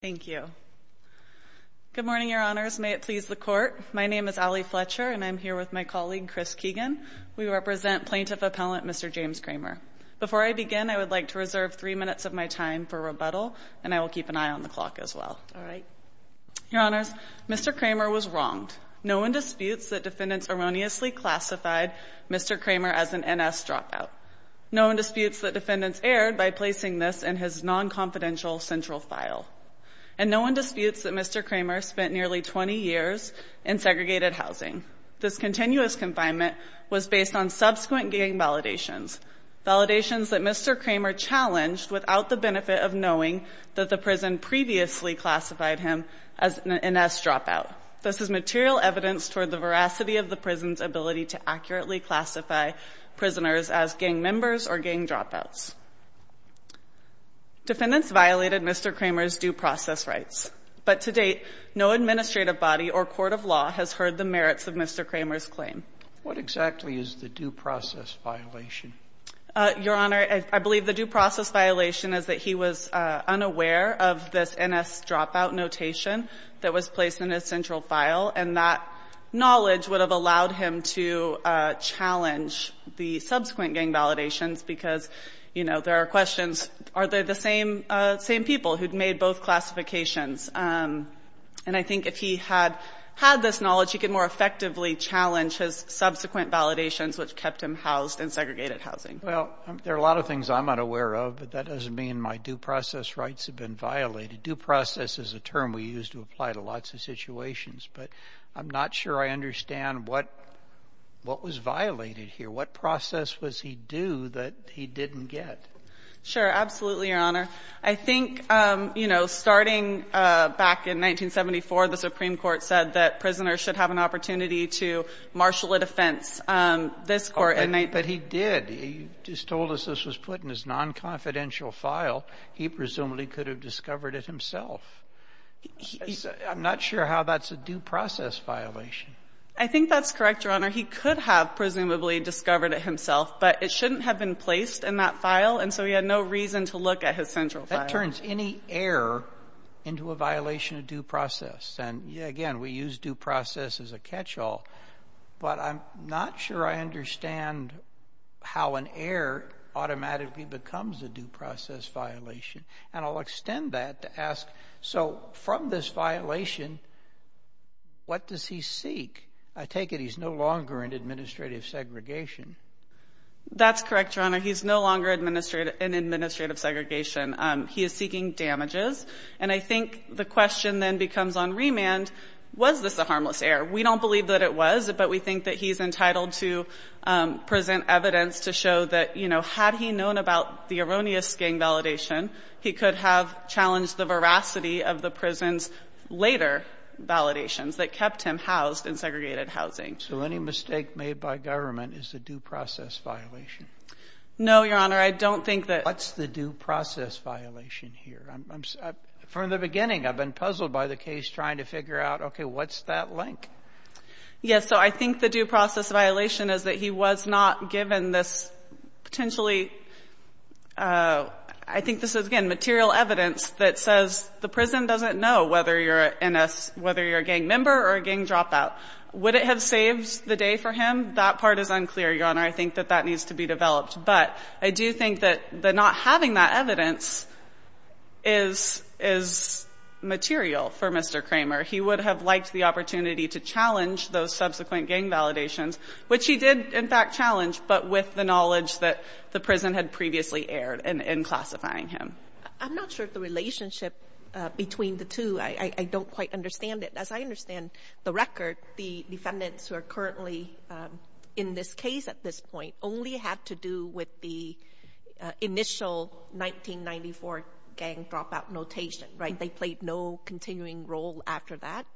Thank you. Good morning, Your Honors. May it please the Court, my name is Ali Fletcher and I'm here with my colleague Chris Keegan. We represent Plaintiff Appellant Mr. James Cramer. Before I begin, I would like to reserve three minutes of my time for rebuttal and I will keep an eye on the clock as well. Your Honors, Mr. Cramer was wronged. No one disputes that defendants erroneously classified Mr. Cramer as an NS dropout. No one disputes that confidential central file. And no one disputes that Mr. Cramer spent nearly 20 years in segregated housing. This continuous confinement was based on subsequent gang validations, validations that Mr. Cramer challenged without the benefit of knowing that the prison previously classified him as an NS dropout. This is material evidence toward the veracity of the prison's ability to accurately classify prisoners as gang members or gang dropouts. Defendants violated Mr. Cramer's due process rights. But to date, no administrative body or court of law has heard the merits of Mr. Cramer's claim. Judge Sotomayor What exactly is the due process violation? Ali Fletcher Your Honor, I believe the due process violation is that he was unaware of this NS dropout notation that was placed in his central file and that knowledge would have allowed him to challenge the subsequent gang validations because, you know, there are questions, are they the same people who'd made both classifications? And I think if he had had this knowledge, he could more effectively challenge his subsequent validations which kept him housed in segregated housing. Judge Sotomayor Well, there are a lot of things I'm unaware of, but that doesn't mean my due process rights have been violated. Due process is a term we use to apply to lots of situations, but I'm not sure I understand what was violated here. What process was he due that he didn't get? Ali Fletcher Sure, absolutely, Your Honor. I think, you know, starting back in 1974, the Supreme Court said that prisoners should have an opportunity to marshal a defense. This Court in 1974... Judge Sotomayor But he did. He just told us this was put in his non-confidential file. He presumably could have discovered it himself. I'm not sure how that's a due process violation. Ali Fletcher I think that's correct, Your Honor. He could have presumably discovered it himself, but it shouldn't have been placed in that file, and so he had no reason to look at his central file. Judge Sotomayor That turns any error into a violation of due process, and again, we use due process as a catch-all, but I'm not sure I understand how an error automatically becomes a due process violation, and I'll extend that to ask, so from this violation, what does he seek? I take it he's no longer in administrative segregation. Ali Fletcher That's correct, Your Honor. He's no longer in administrative segregation. He is seeking damages, and I think the question then becomes on remand, was this a harmless error? We don't believe that it was, but we think that he's in evidence to show that, you know, had he known about the erroneous gang validation, he could have challenged the veracity of the prison's later validations that kept him housed in segregated housing. Judge Sotomayor So any mistake made by government is a due process violation? Ali Fletcher No, Your Honor. I don't think that ---- Judge Sotomayor What's the due process violation here? From the beginning, I've been puzzled by the case trying to figure out, okay, what's that link? Ali Fletcher Yes. So I think the due process violation is that he was not given this potentially ---- I think this is, again, material evidence that says the prison doesn't know whether you're a gang member or a gang dropout. Would it have saved the day for him? That part is unclear, Your Honor. I think that that needs to be developed. But I do think that not having that evidence is material for Mr. Kramer. He would have liked the opportunity to challenge those subsequent gang validations, which he did, in fact, challenge, but with the knowledge that the prison had previously aired in classifying him. Judge Sotomayor I'm not sure if the relationship between the two, I don't quite understand it. As I understand the record, the defendants who are currently in this case at this point only had to do with the initial 1994 gang dropout notation, right? They played no continuing role after that? Ali Fletcher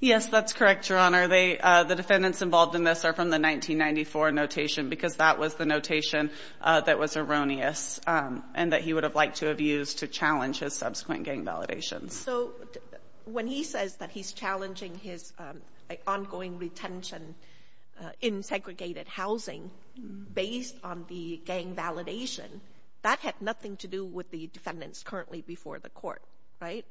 Yes, that's correct, Your Honor. The defendants involved in this are from the 1994 notation because that was the notation that was erroneous and that he would have liked to have used to challenge his subsequent gang validations. Judge Sotomayor So when he says that he's challenging his ongoing retention in segregated housing based on the gang validation, that had nothing to do with the defendants currently before the court, right?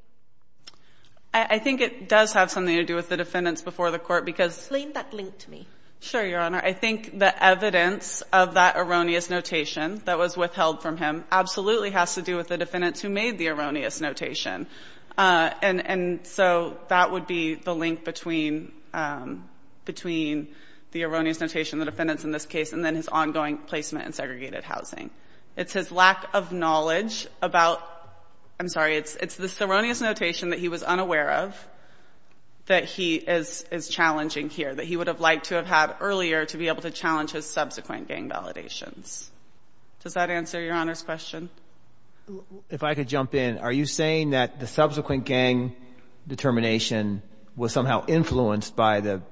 Ali Fletcher I think it does have something to do with the defendants before the court because — Judge Sotomayor Explain that link to me. Ali Fletcher Sure, Your Honor. I think the evidence of that erroneous notation that was withheld from him absolutely has to do with the defendants who made the erroneous notation. And so that would be the link between the erroneous notation, the defendants in this case, and then his ongoing placement in segregated housing. So it's the erroneous notation that he was unaware of that he is challenging here, that he would have liked to have had earlier to be able to challenge his subsequent gang validations. Does that answer Your Honor's question? Judge Sotomayor If I could jump in. Are you saying that the subsequent gang determination was somehow influenced by the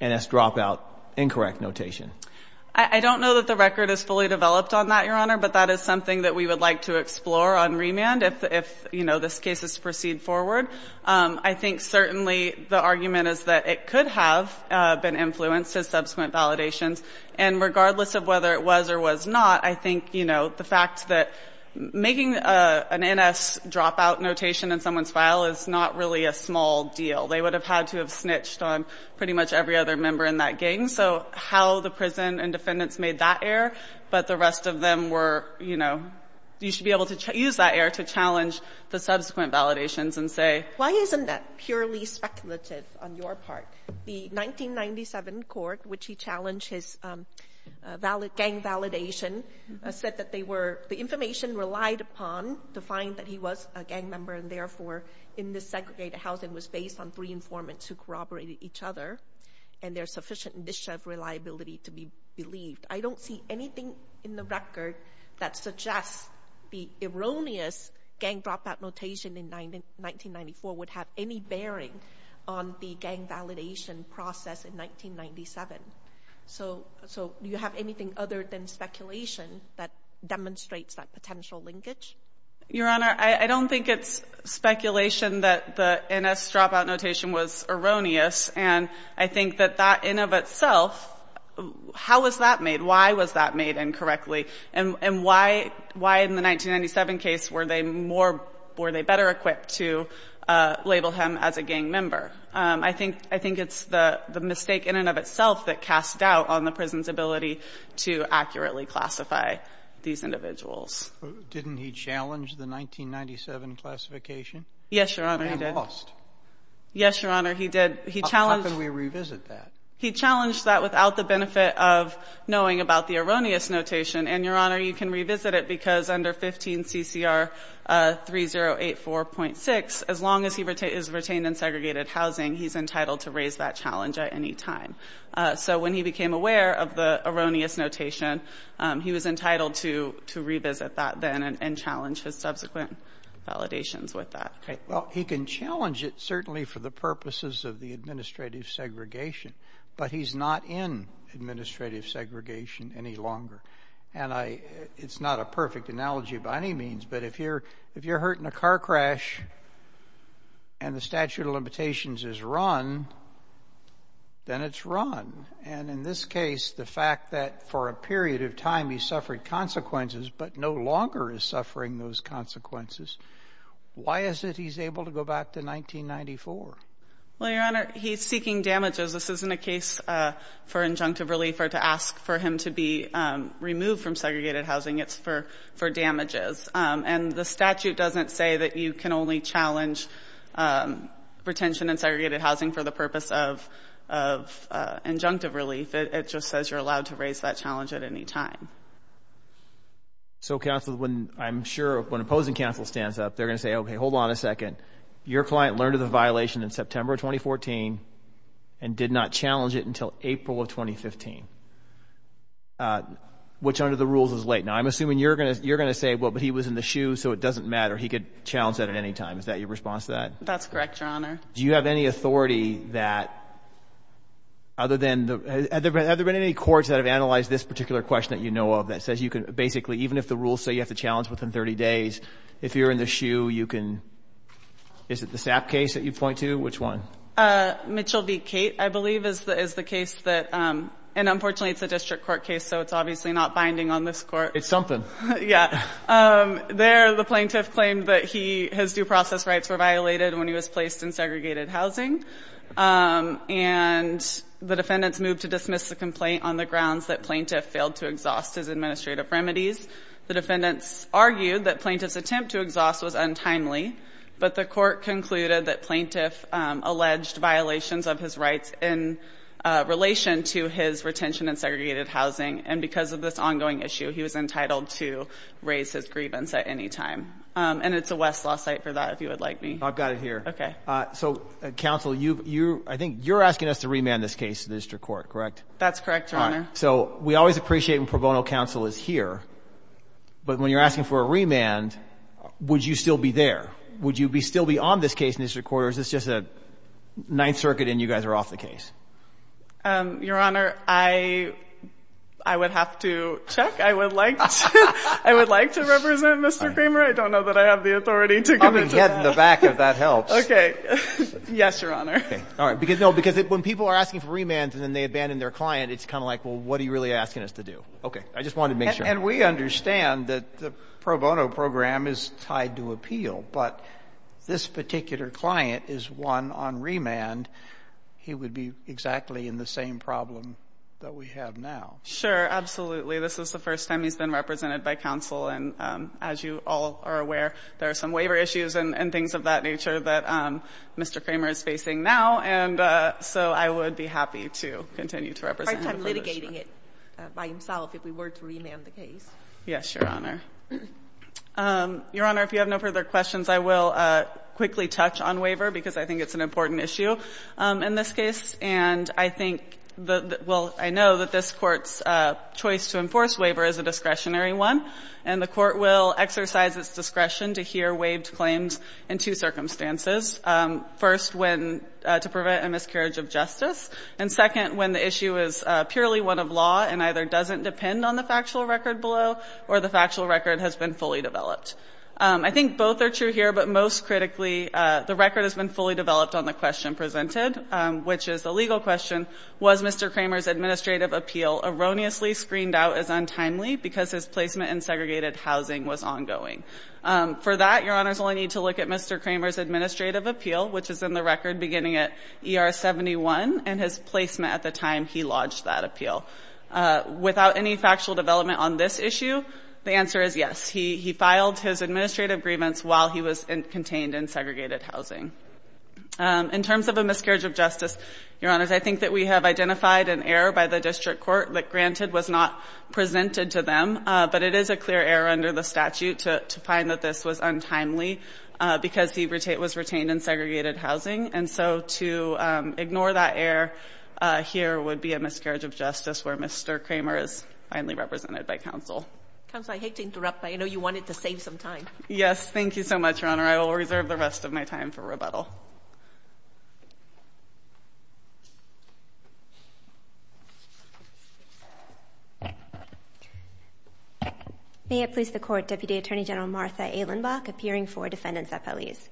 NS dropout incorrect notation? Ali Fletcher I don't know that the record is fully developed on that, Your Honor, but that is something that we would like to explore on remand if, you know, this case is to proceed forward. I think certainly the argument is that it could have been influenced as subsequent validations. And regardless of whether it was or was not, I think, you know, the fact that making an NS dropout notation in someone's file is not really a small deal. They would have had to have snitched on pretty much every other member in that gang. So how the prison and defendants made that error, but the rest of them were, you know, you should be able to use that error to challenge the subsequent validations and say why isn't that purely speculative on your part? The 1997 court, which he challenged his gang validation, said that they were the information relied upon to find that he was a gang member and, therefore, in the segregated housing was based on three informants who corroborated each other. And there's sufficient initiative reliability to be believed. I don't see anything in the record that suggests the erroneous gang dropout notation in 1994 would have any bearing on the gang validation process in 1997. So do you have anything other than speculation that demonstrates that potential linkage? Your Honor, I don't think it's speculation that the NS dropout notation was erroneous, and I think that that in and of itself, how was that made? Why was that made incorrectly? And why in the 1997 case were they more or were they better equipped to label him as a gang member? I think it's the mistake in and of itself that casts doubt on the prison's ability to accurately classify these individuals. Didn't he challenge the 1997 classification? Yes, Your Honor, he did. And lost. Yes, Your Honor, he did. He challenged that without the benefit of knowing about the erroneous notation. And, Your Honor, you can revisit it because under 15 CCR 3084.6, as long as he is retained in segregated housing, he's entitled to raise that challenge at any time. So when he became aware of the erroneous notation, he was entitled to revisit that then and challenge his subsequent validations with that. Well, he can challenge it certainly for the purposes of the administrative segregation, but he's not in administrative segregation any longer. And it's not a perfect analogy by any means, but if you're hurt in a car crash and the statute of limitations is run, then it's run. And in this case, the fact that for a period of time he suffered consequences but no longer is suffering those consequences, why is it he's able to go back to 1994? Well, Your Honor, he's seeking damages. This isn't a case for injunctive relief or to ask for him to be removed from segregated housing. It's for damages. And the statute doesn't say that you can only challenge retention in segregated housing for the purpose of So counsel, when I'm sure, when opposing counsel stands up, they're going to say, okay, hold on a second. Your client learned of the violation in September of 2014 and did not challenge it until April of 2015, which under the rules is late. Now, I'm assuming you're going to say, well, but he was in the shoe, so it doesn't matter. He could challenge that at any time. Is that your response to that? That's correct, Your Honor. Do you have any authority that other than the, have there been any courts that have even if the rules say you have to challenge within 30 days, if you're in the shoe, you can, is it the SAP case that you point to? Which one? Mitchell v. Cate, I believe, is the case that, and unfortunately, it's a district court case, so it's obviously not binding on this court. It's something. Yeah. There, the plaintiff claimed that his due process rights were violated when he was placed in segregated housing. And the defendants moved to dismiss the complaint on the grounds that plaintiff failed to exhaust his administrative remedies. The defendants argued that plaintiff's attempt to exhaust was untimely, but the court concluded that plaintiff alleged violations of his rights in relation to his retention in segregated housing. And because of this ongoing issue, he was entitled to raise his grievance at any time. And it's a Westlaw site for that, if you would like me. I've got it here. Okay. So, counsel, you, I think you're asking us to remand this case to the district court, correct? That's correct, Your Honor. All right. So we always appreciate when pro bono counsel is here, but when you're asking for a remand, would you still be there? Would you still be on this case in the district court, or is this just a Ninth Circuit and you guys are off the case? Your Honor, I would have to check. I would like to represent Mr. Kramer. I don't know that I have the authority to go into that. I'm going to get in the back if that helps. Okay. Yes, Your Honor. Okay. All right. No, because when people are asking for remands and then they abandon their client, it's kind of like, well, what are you really asking us to do? Okay. I just wanted to make sure. And we understand that the pro bono program is tied to appeal, but this particular client is one on remand. He would be exactly in the same problem that we have now. Sure, absolutely. This is the first time he's been represented by counsel. And as you all are aware, there are some waiver issues and things of that nature that Mr. Kramer is facing now. And so I would be happy to continue to represent him. It's a hard time litigating it by himself if we were to remand the case. Yes, Your Honor. Your Honor, if you have no further questions, I will quickly touch on waiver, because I think it's an important issue in this case. And I think the – well, I know that this Court's choice to enforce waiver is a discretionary one, and the Court will exercise its discretion to hear waived claims in two circumstances. First, when – to prevent a miscarriage of justice. And second, when the issue is purely one of law and either doesn't depend on the factual record below or the factual record has been fully developed. I think both are true here, but most critically, the record has been fully developed on the question presented, which is the legal question, was Mr. Kramer's administrative appeal erroneously screened out as untimely because his placement in segregated housing was ongoing. For that, Your Honors, we'll need to look at Mr. Kramer's administrative appeal, which is in the record beginning at ER 71, and his placement at the time he lodged that appeal. Without any factual development on this issue, the answer is yes. He filed his administrative grievance while he was contained in segregated housing. In terms of a miscarriage of justice, Your Honors, I think that we have identified an error by the district court that granted was not presented to them, but it is a clear error under the statute to find that this was untimely because he was retained in segregated housing. And so to ignore that error here would be a miscarriage of justice where Mr. Kramer is finally represented by counsel. Counsel, I hate to interrupt, but I know you wanted to save some time. Yes. Thank you so much, Your Honor. I will reserve the rest of my time for rebuttal. May it please the Court, Deputy Attorney General Martha A. Lindbach, appearing for defendants at police.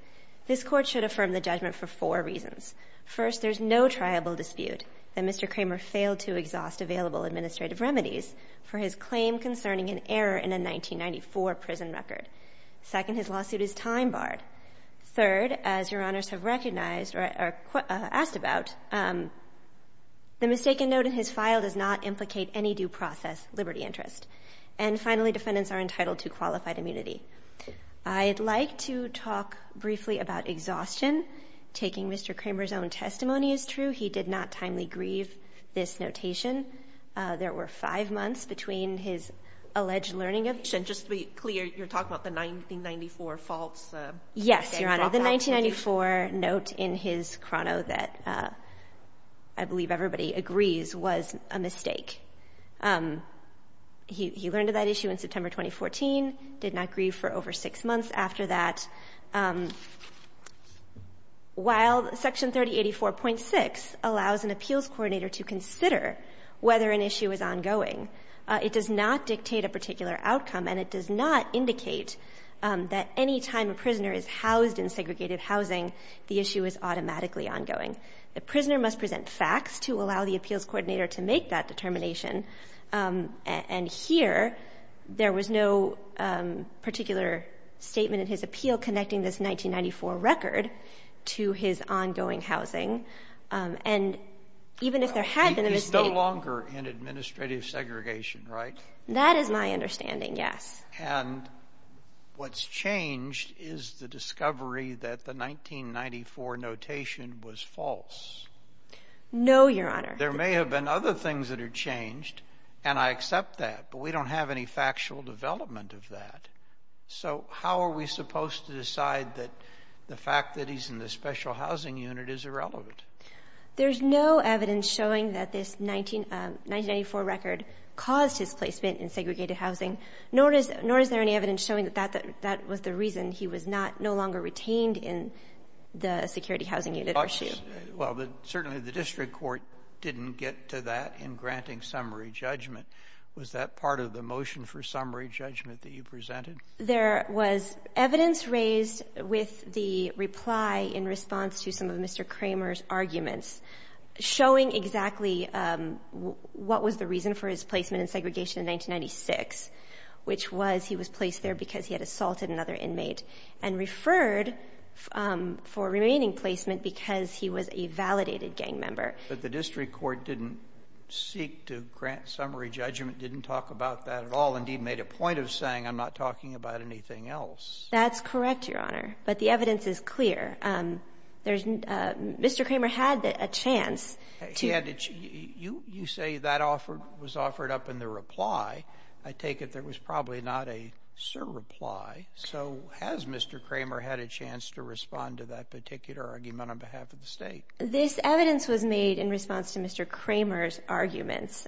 This Court should affirm the judgment for four reasons. First, there is no triable dispute that Mr. Kramer failed to exhaust available administrative remedies for his claim concerning an error in a 1994 prison record. Second, his lawsuit is time-barred. Mr. Kramer did not file a miscarriage of justice that the defendants have recognized or asked about. The mistaken note in his file does not implicate any due process liberty interest. And finally, defendants are entitled to qualified immunity. I'd like to talk briefly about exhaustion. Taking Mr. Kramer's own testimony is true. He did not timely grieve this notation. There were five months between his alleged learning of it. And just to be clear, you're talking about the 1994 faults? Yes, Your Honor. The 1994 note in his chrono that I believe everybody agrees was a mistake. He learned of that issue in September 2014, did not grieve for over six months after that. While Section 3084.6 allows an appeals coordinator to consider whether an issue is ongoing, it does not dictate a particular outcome, and it does not indicate that any time a prisoner is housed in segregated housing, the issue is automatically ongoing. The prisoner must present facts to allow the appeals coordinator to make that determination. And here, there was no particular statement in his appeal connecting this 1994 record to his ongoing housing. And even if there had been a mistake. It's no longer an administrative segregation, right? That is my understanding, yes. And what's changed is the discovery that the 1994 notation was false. No, Your Honor. There may have been other things that are changed, and I accept that, but we don't have any factual development of that. So how are we supposed to decide that the fact that he's in the special housing unit is irrelevant? There's no evidence showing that this 1994 record caused his placement in segregated housing, nor is there any evidence showing that that was the reason he was no longer retained in the security housing unit or SHU. Well, certainly the district court didn't get to that in granting summary judgment. Was that part of the motion for summary judgment that you presented? There was evidence raised with the reply in response to some of Mr. Kramer's arguments showing exactly what was the reason for his placement in segregation in 1996, which was he was placed there because he had assaulted another inmate and referred for remaining placement because he was a validated gang member. But the district court didn't seek to grant summary judgment, didn't talk about that at all, indeed made a point of saying I'm not talking about anything else. That's correct, Your Honor. But the evidence is clear. There's no ---- Mr. Kramer had a chance to ---- He had a chance. You say that was offered up in the reply. I take it there was probably not a surreply. So has Mr. Kramer had a chance to respond to that particular argument on behalf of the State? This evidence was made in response to Mr. Kramer's arguments.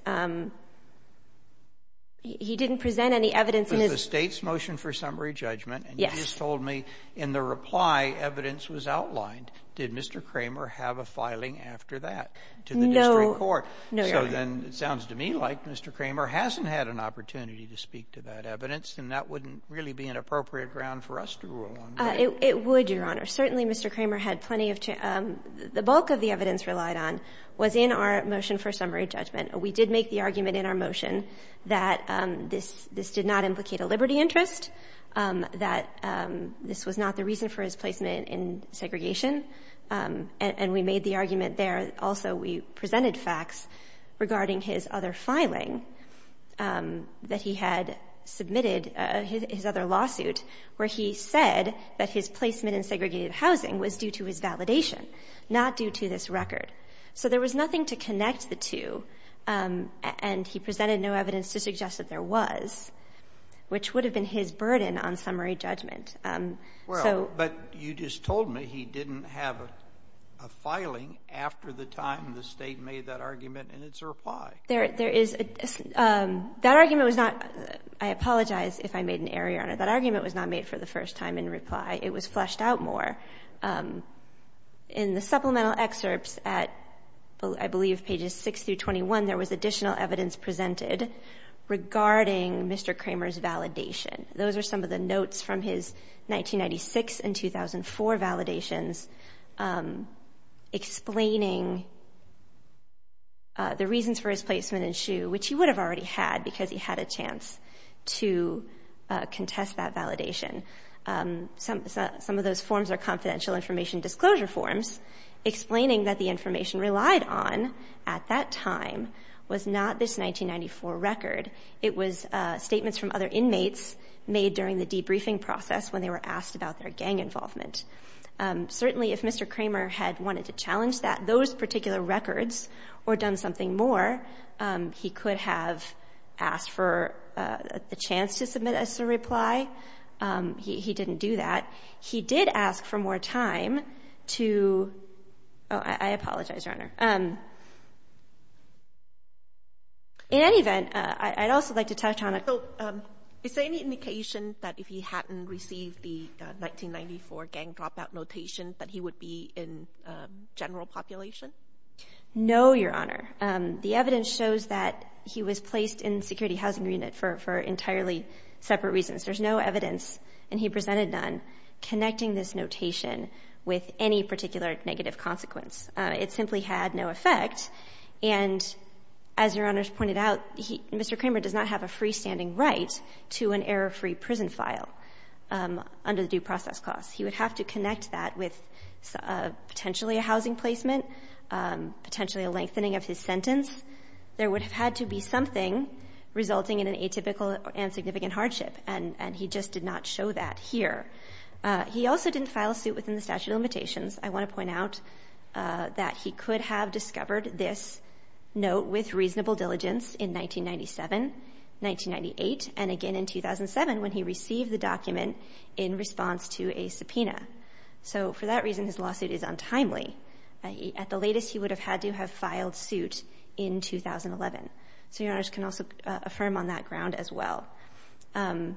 He didn't present any evidence in his ---- It was the State's motion for summary judgment. Yes. And you just told me in the reply evidence was outlined. Did Mr. Kramer have a filing after that to the district court? No. No, Your Honor. So then it sounds to me like Mr. Kramer hasn't had an opportunity to speak to that evidence, and that wouldn't really be an appropriate ground for us to rule on. It would, Your Honor. Certainly Mr. Kramer had plenty of ---- the bulk of the evidence relied on was in our motion for summary judgment. We did make the argument in our motion that this did not implicate a liberty interest, that this was not the reason for his placement in segregation, and we made the argument there. Also, we presented facts regarding his other filing that he had submitted, his other lawsuit, where he said that his placement in segregated housing was due to his validation, not due to this record. So there was nothing to connect the two, and he presented no evidence to suggest that there was, which would have been his burden on summary judgment. So ---- Well, but you just told me he didn't have a filing after the time the State made that argument in its reply. There is ---- that argument was not ---- I apologize if I made an error, Your Honor. That argument was not made for the first time in reply. It was fleshed out more. In the supplemental excerpts at, I believe, pages 6 through 21, there was additional evidence presented regarding Mr. Kramer's validation. Those are some of the notes from his 1996 and 2004 validations explaining the reasons for his placement in SHU, which he would have already had because he had a chance to contest that validation. Some of those forms are confidential information disclosure forms explaining that the information relied on at that time was not this 1994 record. It was statements from other inmates made during the debriefing process when they were asked about their gang involvement. Certainly, if Mr. Kramer had wanted to challenge that, those particular records, or done something more, he could have asked for a chance to submit a reply. He didn't do that. He did ask for more time to ---- oh, I apologize, Your Honor. In any event, I'd also like to touch on a ---- So is there any indication that if he hadn't received the 1994 gang dropout notation that he would be in general population? No, Your Honor. The evidence shows that he was placed in security housing unit for entirely separate reasons. There's no evidence, and he presented none, connecting this notation with any particular negative consequence. It simply had no effect. And as Your Honor's pointed out, Mr. Kramer does not have a freestanding right to an error-free prison file under the due process clause. He would have to connect that with potentially a housing placement, potentially a lengthening of his sentence. There would have had to be something resulting in an atypical and significant hardship, and he just did not show that here. He also didn't file a suit within the statute of limitations. I want to point out that he could have discovered this note with reasonable diligence in 1997, 1998, and again in 2007 when he received the document in response to a subpoena. So for that reason, his lawsuit is untimely. At the latest, he would have had to have filed suit in 2011. So Your Honors can also affirm on that ground as well. And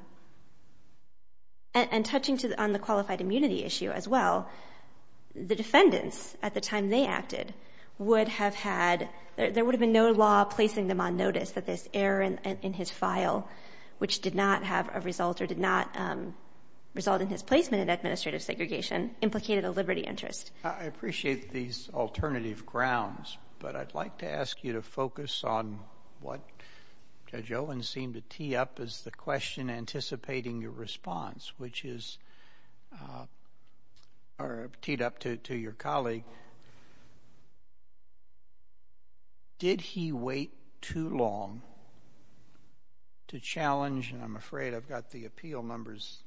touching on the qualified immunity issue as well, the defendants at the time they acted would have had — there would have been no law placing them on notice that this error in his file, which did not have a result or did not result in his placement in administrative segregation, implicated a liberty interest. I appreciate these alternative grounds, but I'd like to ask you to focus on what Judge Owen seemed to tee up as the question anticipating your response, which is — or teed up to your colleague. Did he wait too long to challenge — and I'm afraid I've got the appeal numbers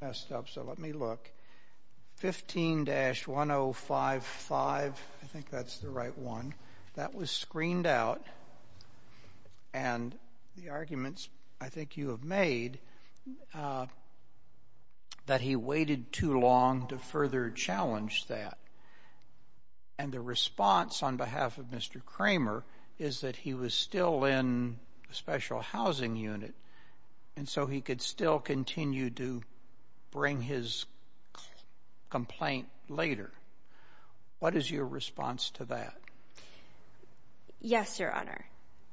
messed up, so let me look. 15-1055, I think that's the right one, that was screened out. And the arguments I think you have made that he waited too long to further challenge that. And the response on behalf of Mr. Kramer is that he was still in the special housing unit, and so he could still continue to bring his complaint later. What is your response to that? Yes, Your Honor.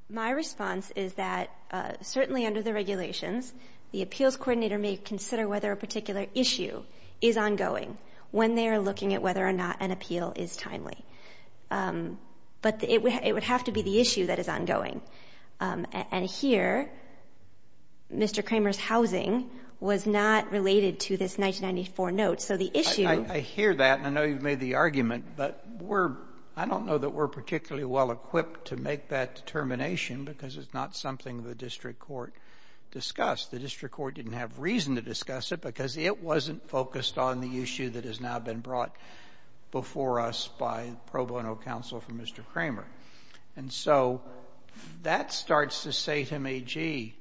My response is that certainly under the regulations, the appeals coordinator may consider whether a particular issue is ongoing when they are looking at whether or not an appeal is timely. But it would have to be the issue that is ongoing. And here, Mr. Kramer's housing was not related to this 1994 note. So the issue — I hear that, and I know you've made the argument, but we're — I don't know that we're particularly well-equipped to make that determination because it's not something the district court discussed. The district court didn't have reason to discuss it because it wasn't focused on the issue that has now been brought before us by pro bono counsel for Mr. Kramer. And so that starts to say to me, gee,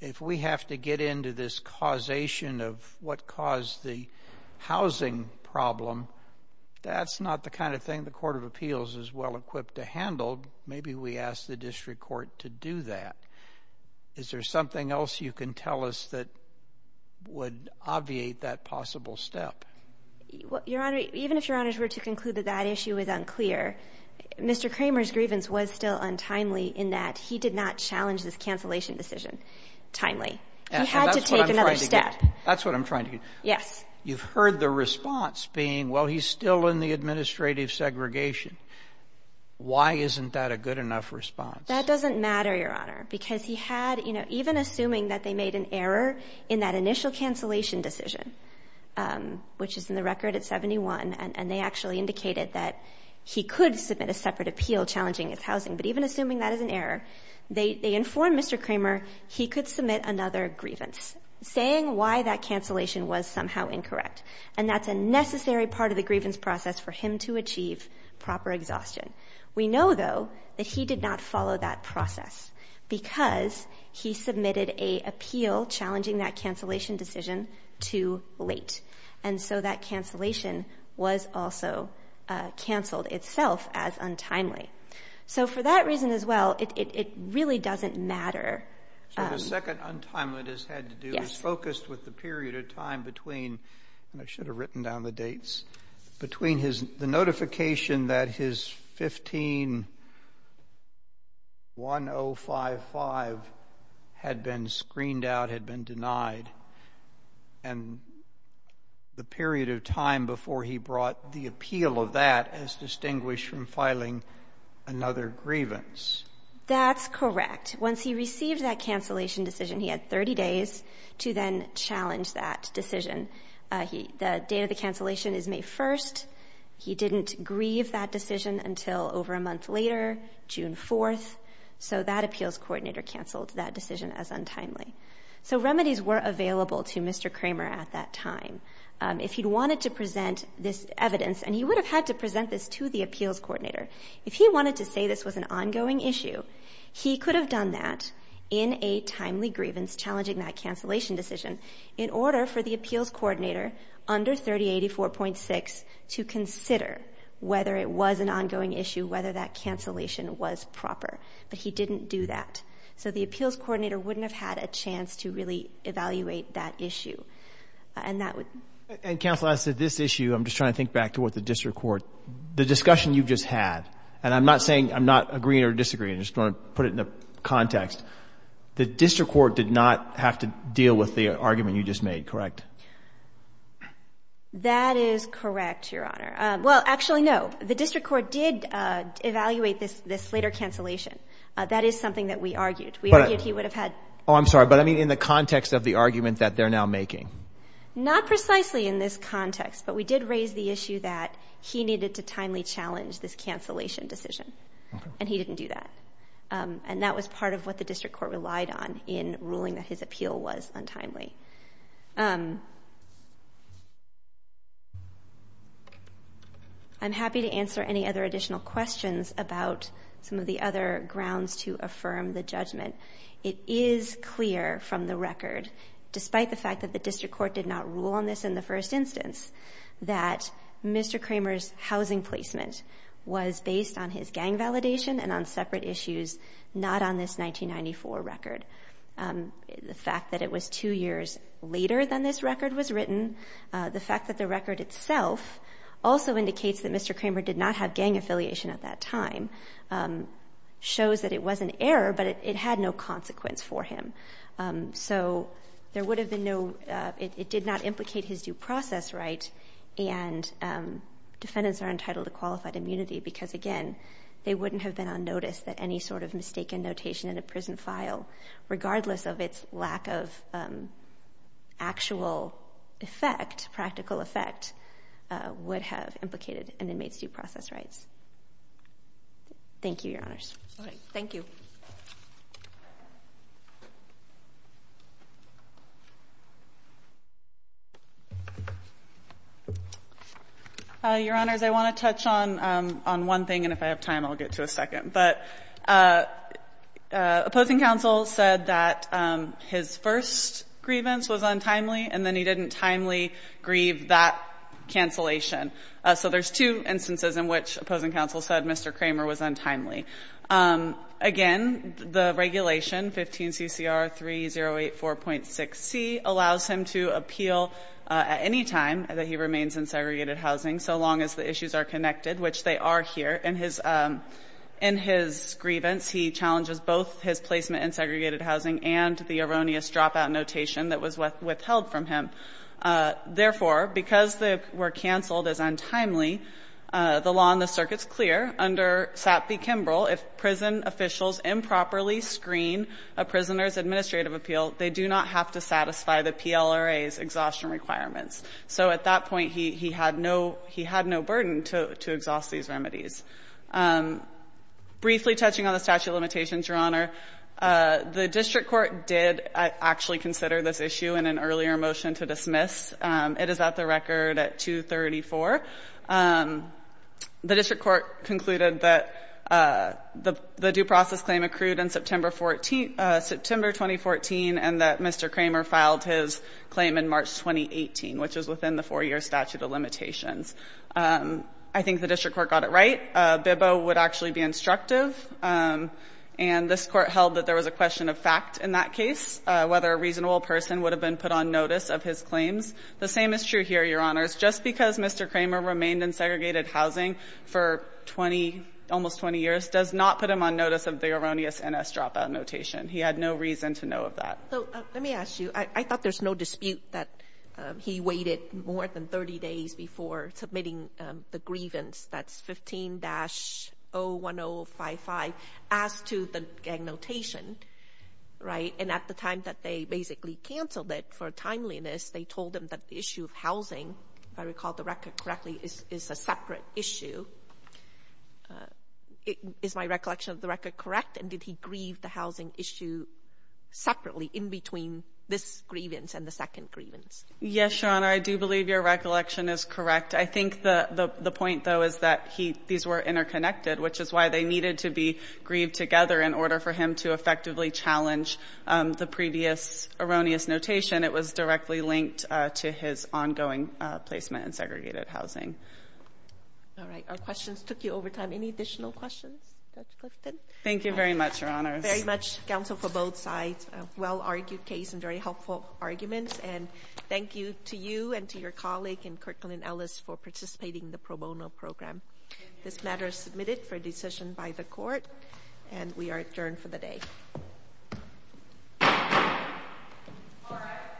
if we have to get into this causation of what caused the housing problem, that's not the kind of thing the Court of Appeals is well-equipped to handle. Maybe we ask the district court to do that. Is there something else you can tell us that would obviate that possible step? Your Honor, even if Your Honors were to conclude that that issue is unclear, Mr. Kramer's grievance was still untimely in that he did not challenge this cancellation decision timely. He had to take another step. That's what I'm trying to get at. That's what I'm trying to get at. Yes. You've heard the response being, well, he's still in the administrative segregation. Why isn't that a good enough response? That doesn't matter, Your Honor, because he had, you know, even assuming that they made an error in that initial cancellation decision, which is in the record at 71, and they actually indicated that he could submit a separate appeal challenging his housing. But even assuming that is an error, they informed Mr. Kramer he could submit another grievance, saying why that cancellation was somehow incorrect. And that's a necessary part of the grievance process for him to achieve proper exhaustion. We know, though, that he did not follow that process because he submitted an appeal challenging that cancellation decision too late. And so that cancellation was also canceled itself as untimely. So for that reason as well, it really doesn't matter. So the second untimely it has had to do is focused with the period of time between and I should have written down the dates, between the notification that his 15-1055 had been screened out, had been denied, and the period of time before he brought the appeal of that as distinguished from filing another grievance. That's correct. Once he received that cancellation decision, he had 30 days to then challenge that decision. The date of the cancellation is May 1st. He didn't grieve that decision until over a month later, June 4th. So that appeals coordinator canceled that decision as untimely. So remedies were available to Mr. Kramer at that time. If he'd wanted to present this evidence, and he would have had to present this to the appeals coordinator, if he wanted to say this was an ongoing issue, he could have done that in a timely grievance challenging that cancellation decision in order for the appeals coordinator under 3084.6 to consider whether it was an ongoing issue, whether that cancellation was proper. But he didn't do that. So the appeals coordinator wouldn't have had a chance to really evaluate that issue. And that would And counsel, as to this issue, I'm just trying to think back to what the district court, the discussion you've just had, and I'm not saying I'm not agreeing or disagreeing. I just want to put it in the context. The district court did not have to deal with the argument you just made, correct? That is correct, Your Honor. Well, actually, no. The district court did evaluate this later cancellation. That is something that we argued. We argued he would have had Oh, I'm sorry. But I mean in the context of the argument that they're now making. Not precisely in this context. But we did raise the issue that he needed to timely challenge this cancellation decision. And he didn't do that. And that was part of what the district court relied on in ruling that his appeal was untimely. I'm happy to answer any other additional questions about some of the other grounds to affirm the judgment. It is clear from the record, despite the fact that the district court did not rule on this in the first instance, that Mr. Kramer's housing placement was based on his gang validation and on separate issues, not on this 1994 record. The fact that it was two years later than this record was written, the fact that the record itself also indicates that Mr. Kramer did not have gang affiliation at that time, shows that it was an error, but it had no consequence for him. So there would have been no, it did not implicate his due process right. And defendants are entitled to qualified immunity because, again, they wouldn't have been on notice that any sort of mistaken notation in a prison file, regardless of its lack of actual effect, practical effect, would have implicated an inmate's due process rights. Thank you, Your Honors. All right. Thank you. Your Honors, I want to touch on one thing, and if I have time, I'll get to a second. But opposing counsel said that his first grievance was untimely, and then he didn't timely grieve that cancellation. So there's two instances in which opposing counsel said Mr. Kramer was untimely. Again, the regulation, 15 CCR 3084.6c, allows him to appeal at any time that he remains in segregated housing, so long as the issues are connected, which they are here. In his grievance, he challenges both his placement in segregated housing and the erroneous dropout notation that was withheld from him. Therefore, because they were canceled as untimely, the law on the circuit is clear. Under SAP v. Kimbrell, if prison officials improperly screen a prisoner's administrative appeal, they do not have to satisfy the PLRA's exhaustion requirements. So at that point, he had no burden to exhaust these remedies. Briefly touching on the statute of limitations, Your Honor, the district court did actually consider this issue in an earlier motion to dismiss. It is at the record at 234. The district court concluded that the due process claim accrued in September 2014 and that Mr. Kramer filed his claim in March 2018, which is within the 4-year statute of limitations. I think the district court got it right. BIBO would actually be instructive, and this Court held that there was a question of fact in that case, whether a reasonable person would have been put on notice of his claims. The same is true here, Your Honors. Just because Mr. Kramer remained in segregated housing for 20, almost 20 years, does not put him on notice of the erroneous NS dropout notation. He had no reason to know of that. So let me ask you. I thought there's no dispute that he waited more than 30 days before submitting the grievance, that's 15-01055, as to the gang notation, right? And at the time that they basically canceled it for timeliness, they told him that the issue of housing, if I recall the record correctly, is a separate issue. Is my recollection of the record correct? And did he grieve the housing issue separately in between this grievance and the second grievance? Yes, Your Honor. I do believe your recollection is correct. I think the point, though, is that these were interconnected, which is why they needed to be grieved together in order for him to effectively challenge the previous erroneous notation. It was directly linked to his ongoing placement in segregated housing. All right. Our questions took you over time. Any additional questions, Judge Clifton? Thank you very much, Your Honor. Thank you very much, counsel, for both sides. A well-argued case and very helpful arguments. And thank you to you and to your colleague and Kirkland Ellis for participating in the pro bono program. This matter is submitted for decision by the court, and we are adjourned for the day. All rise.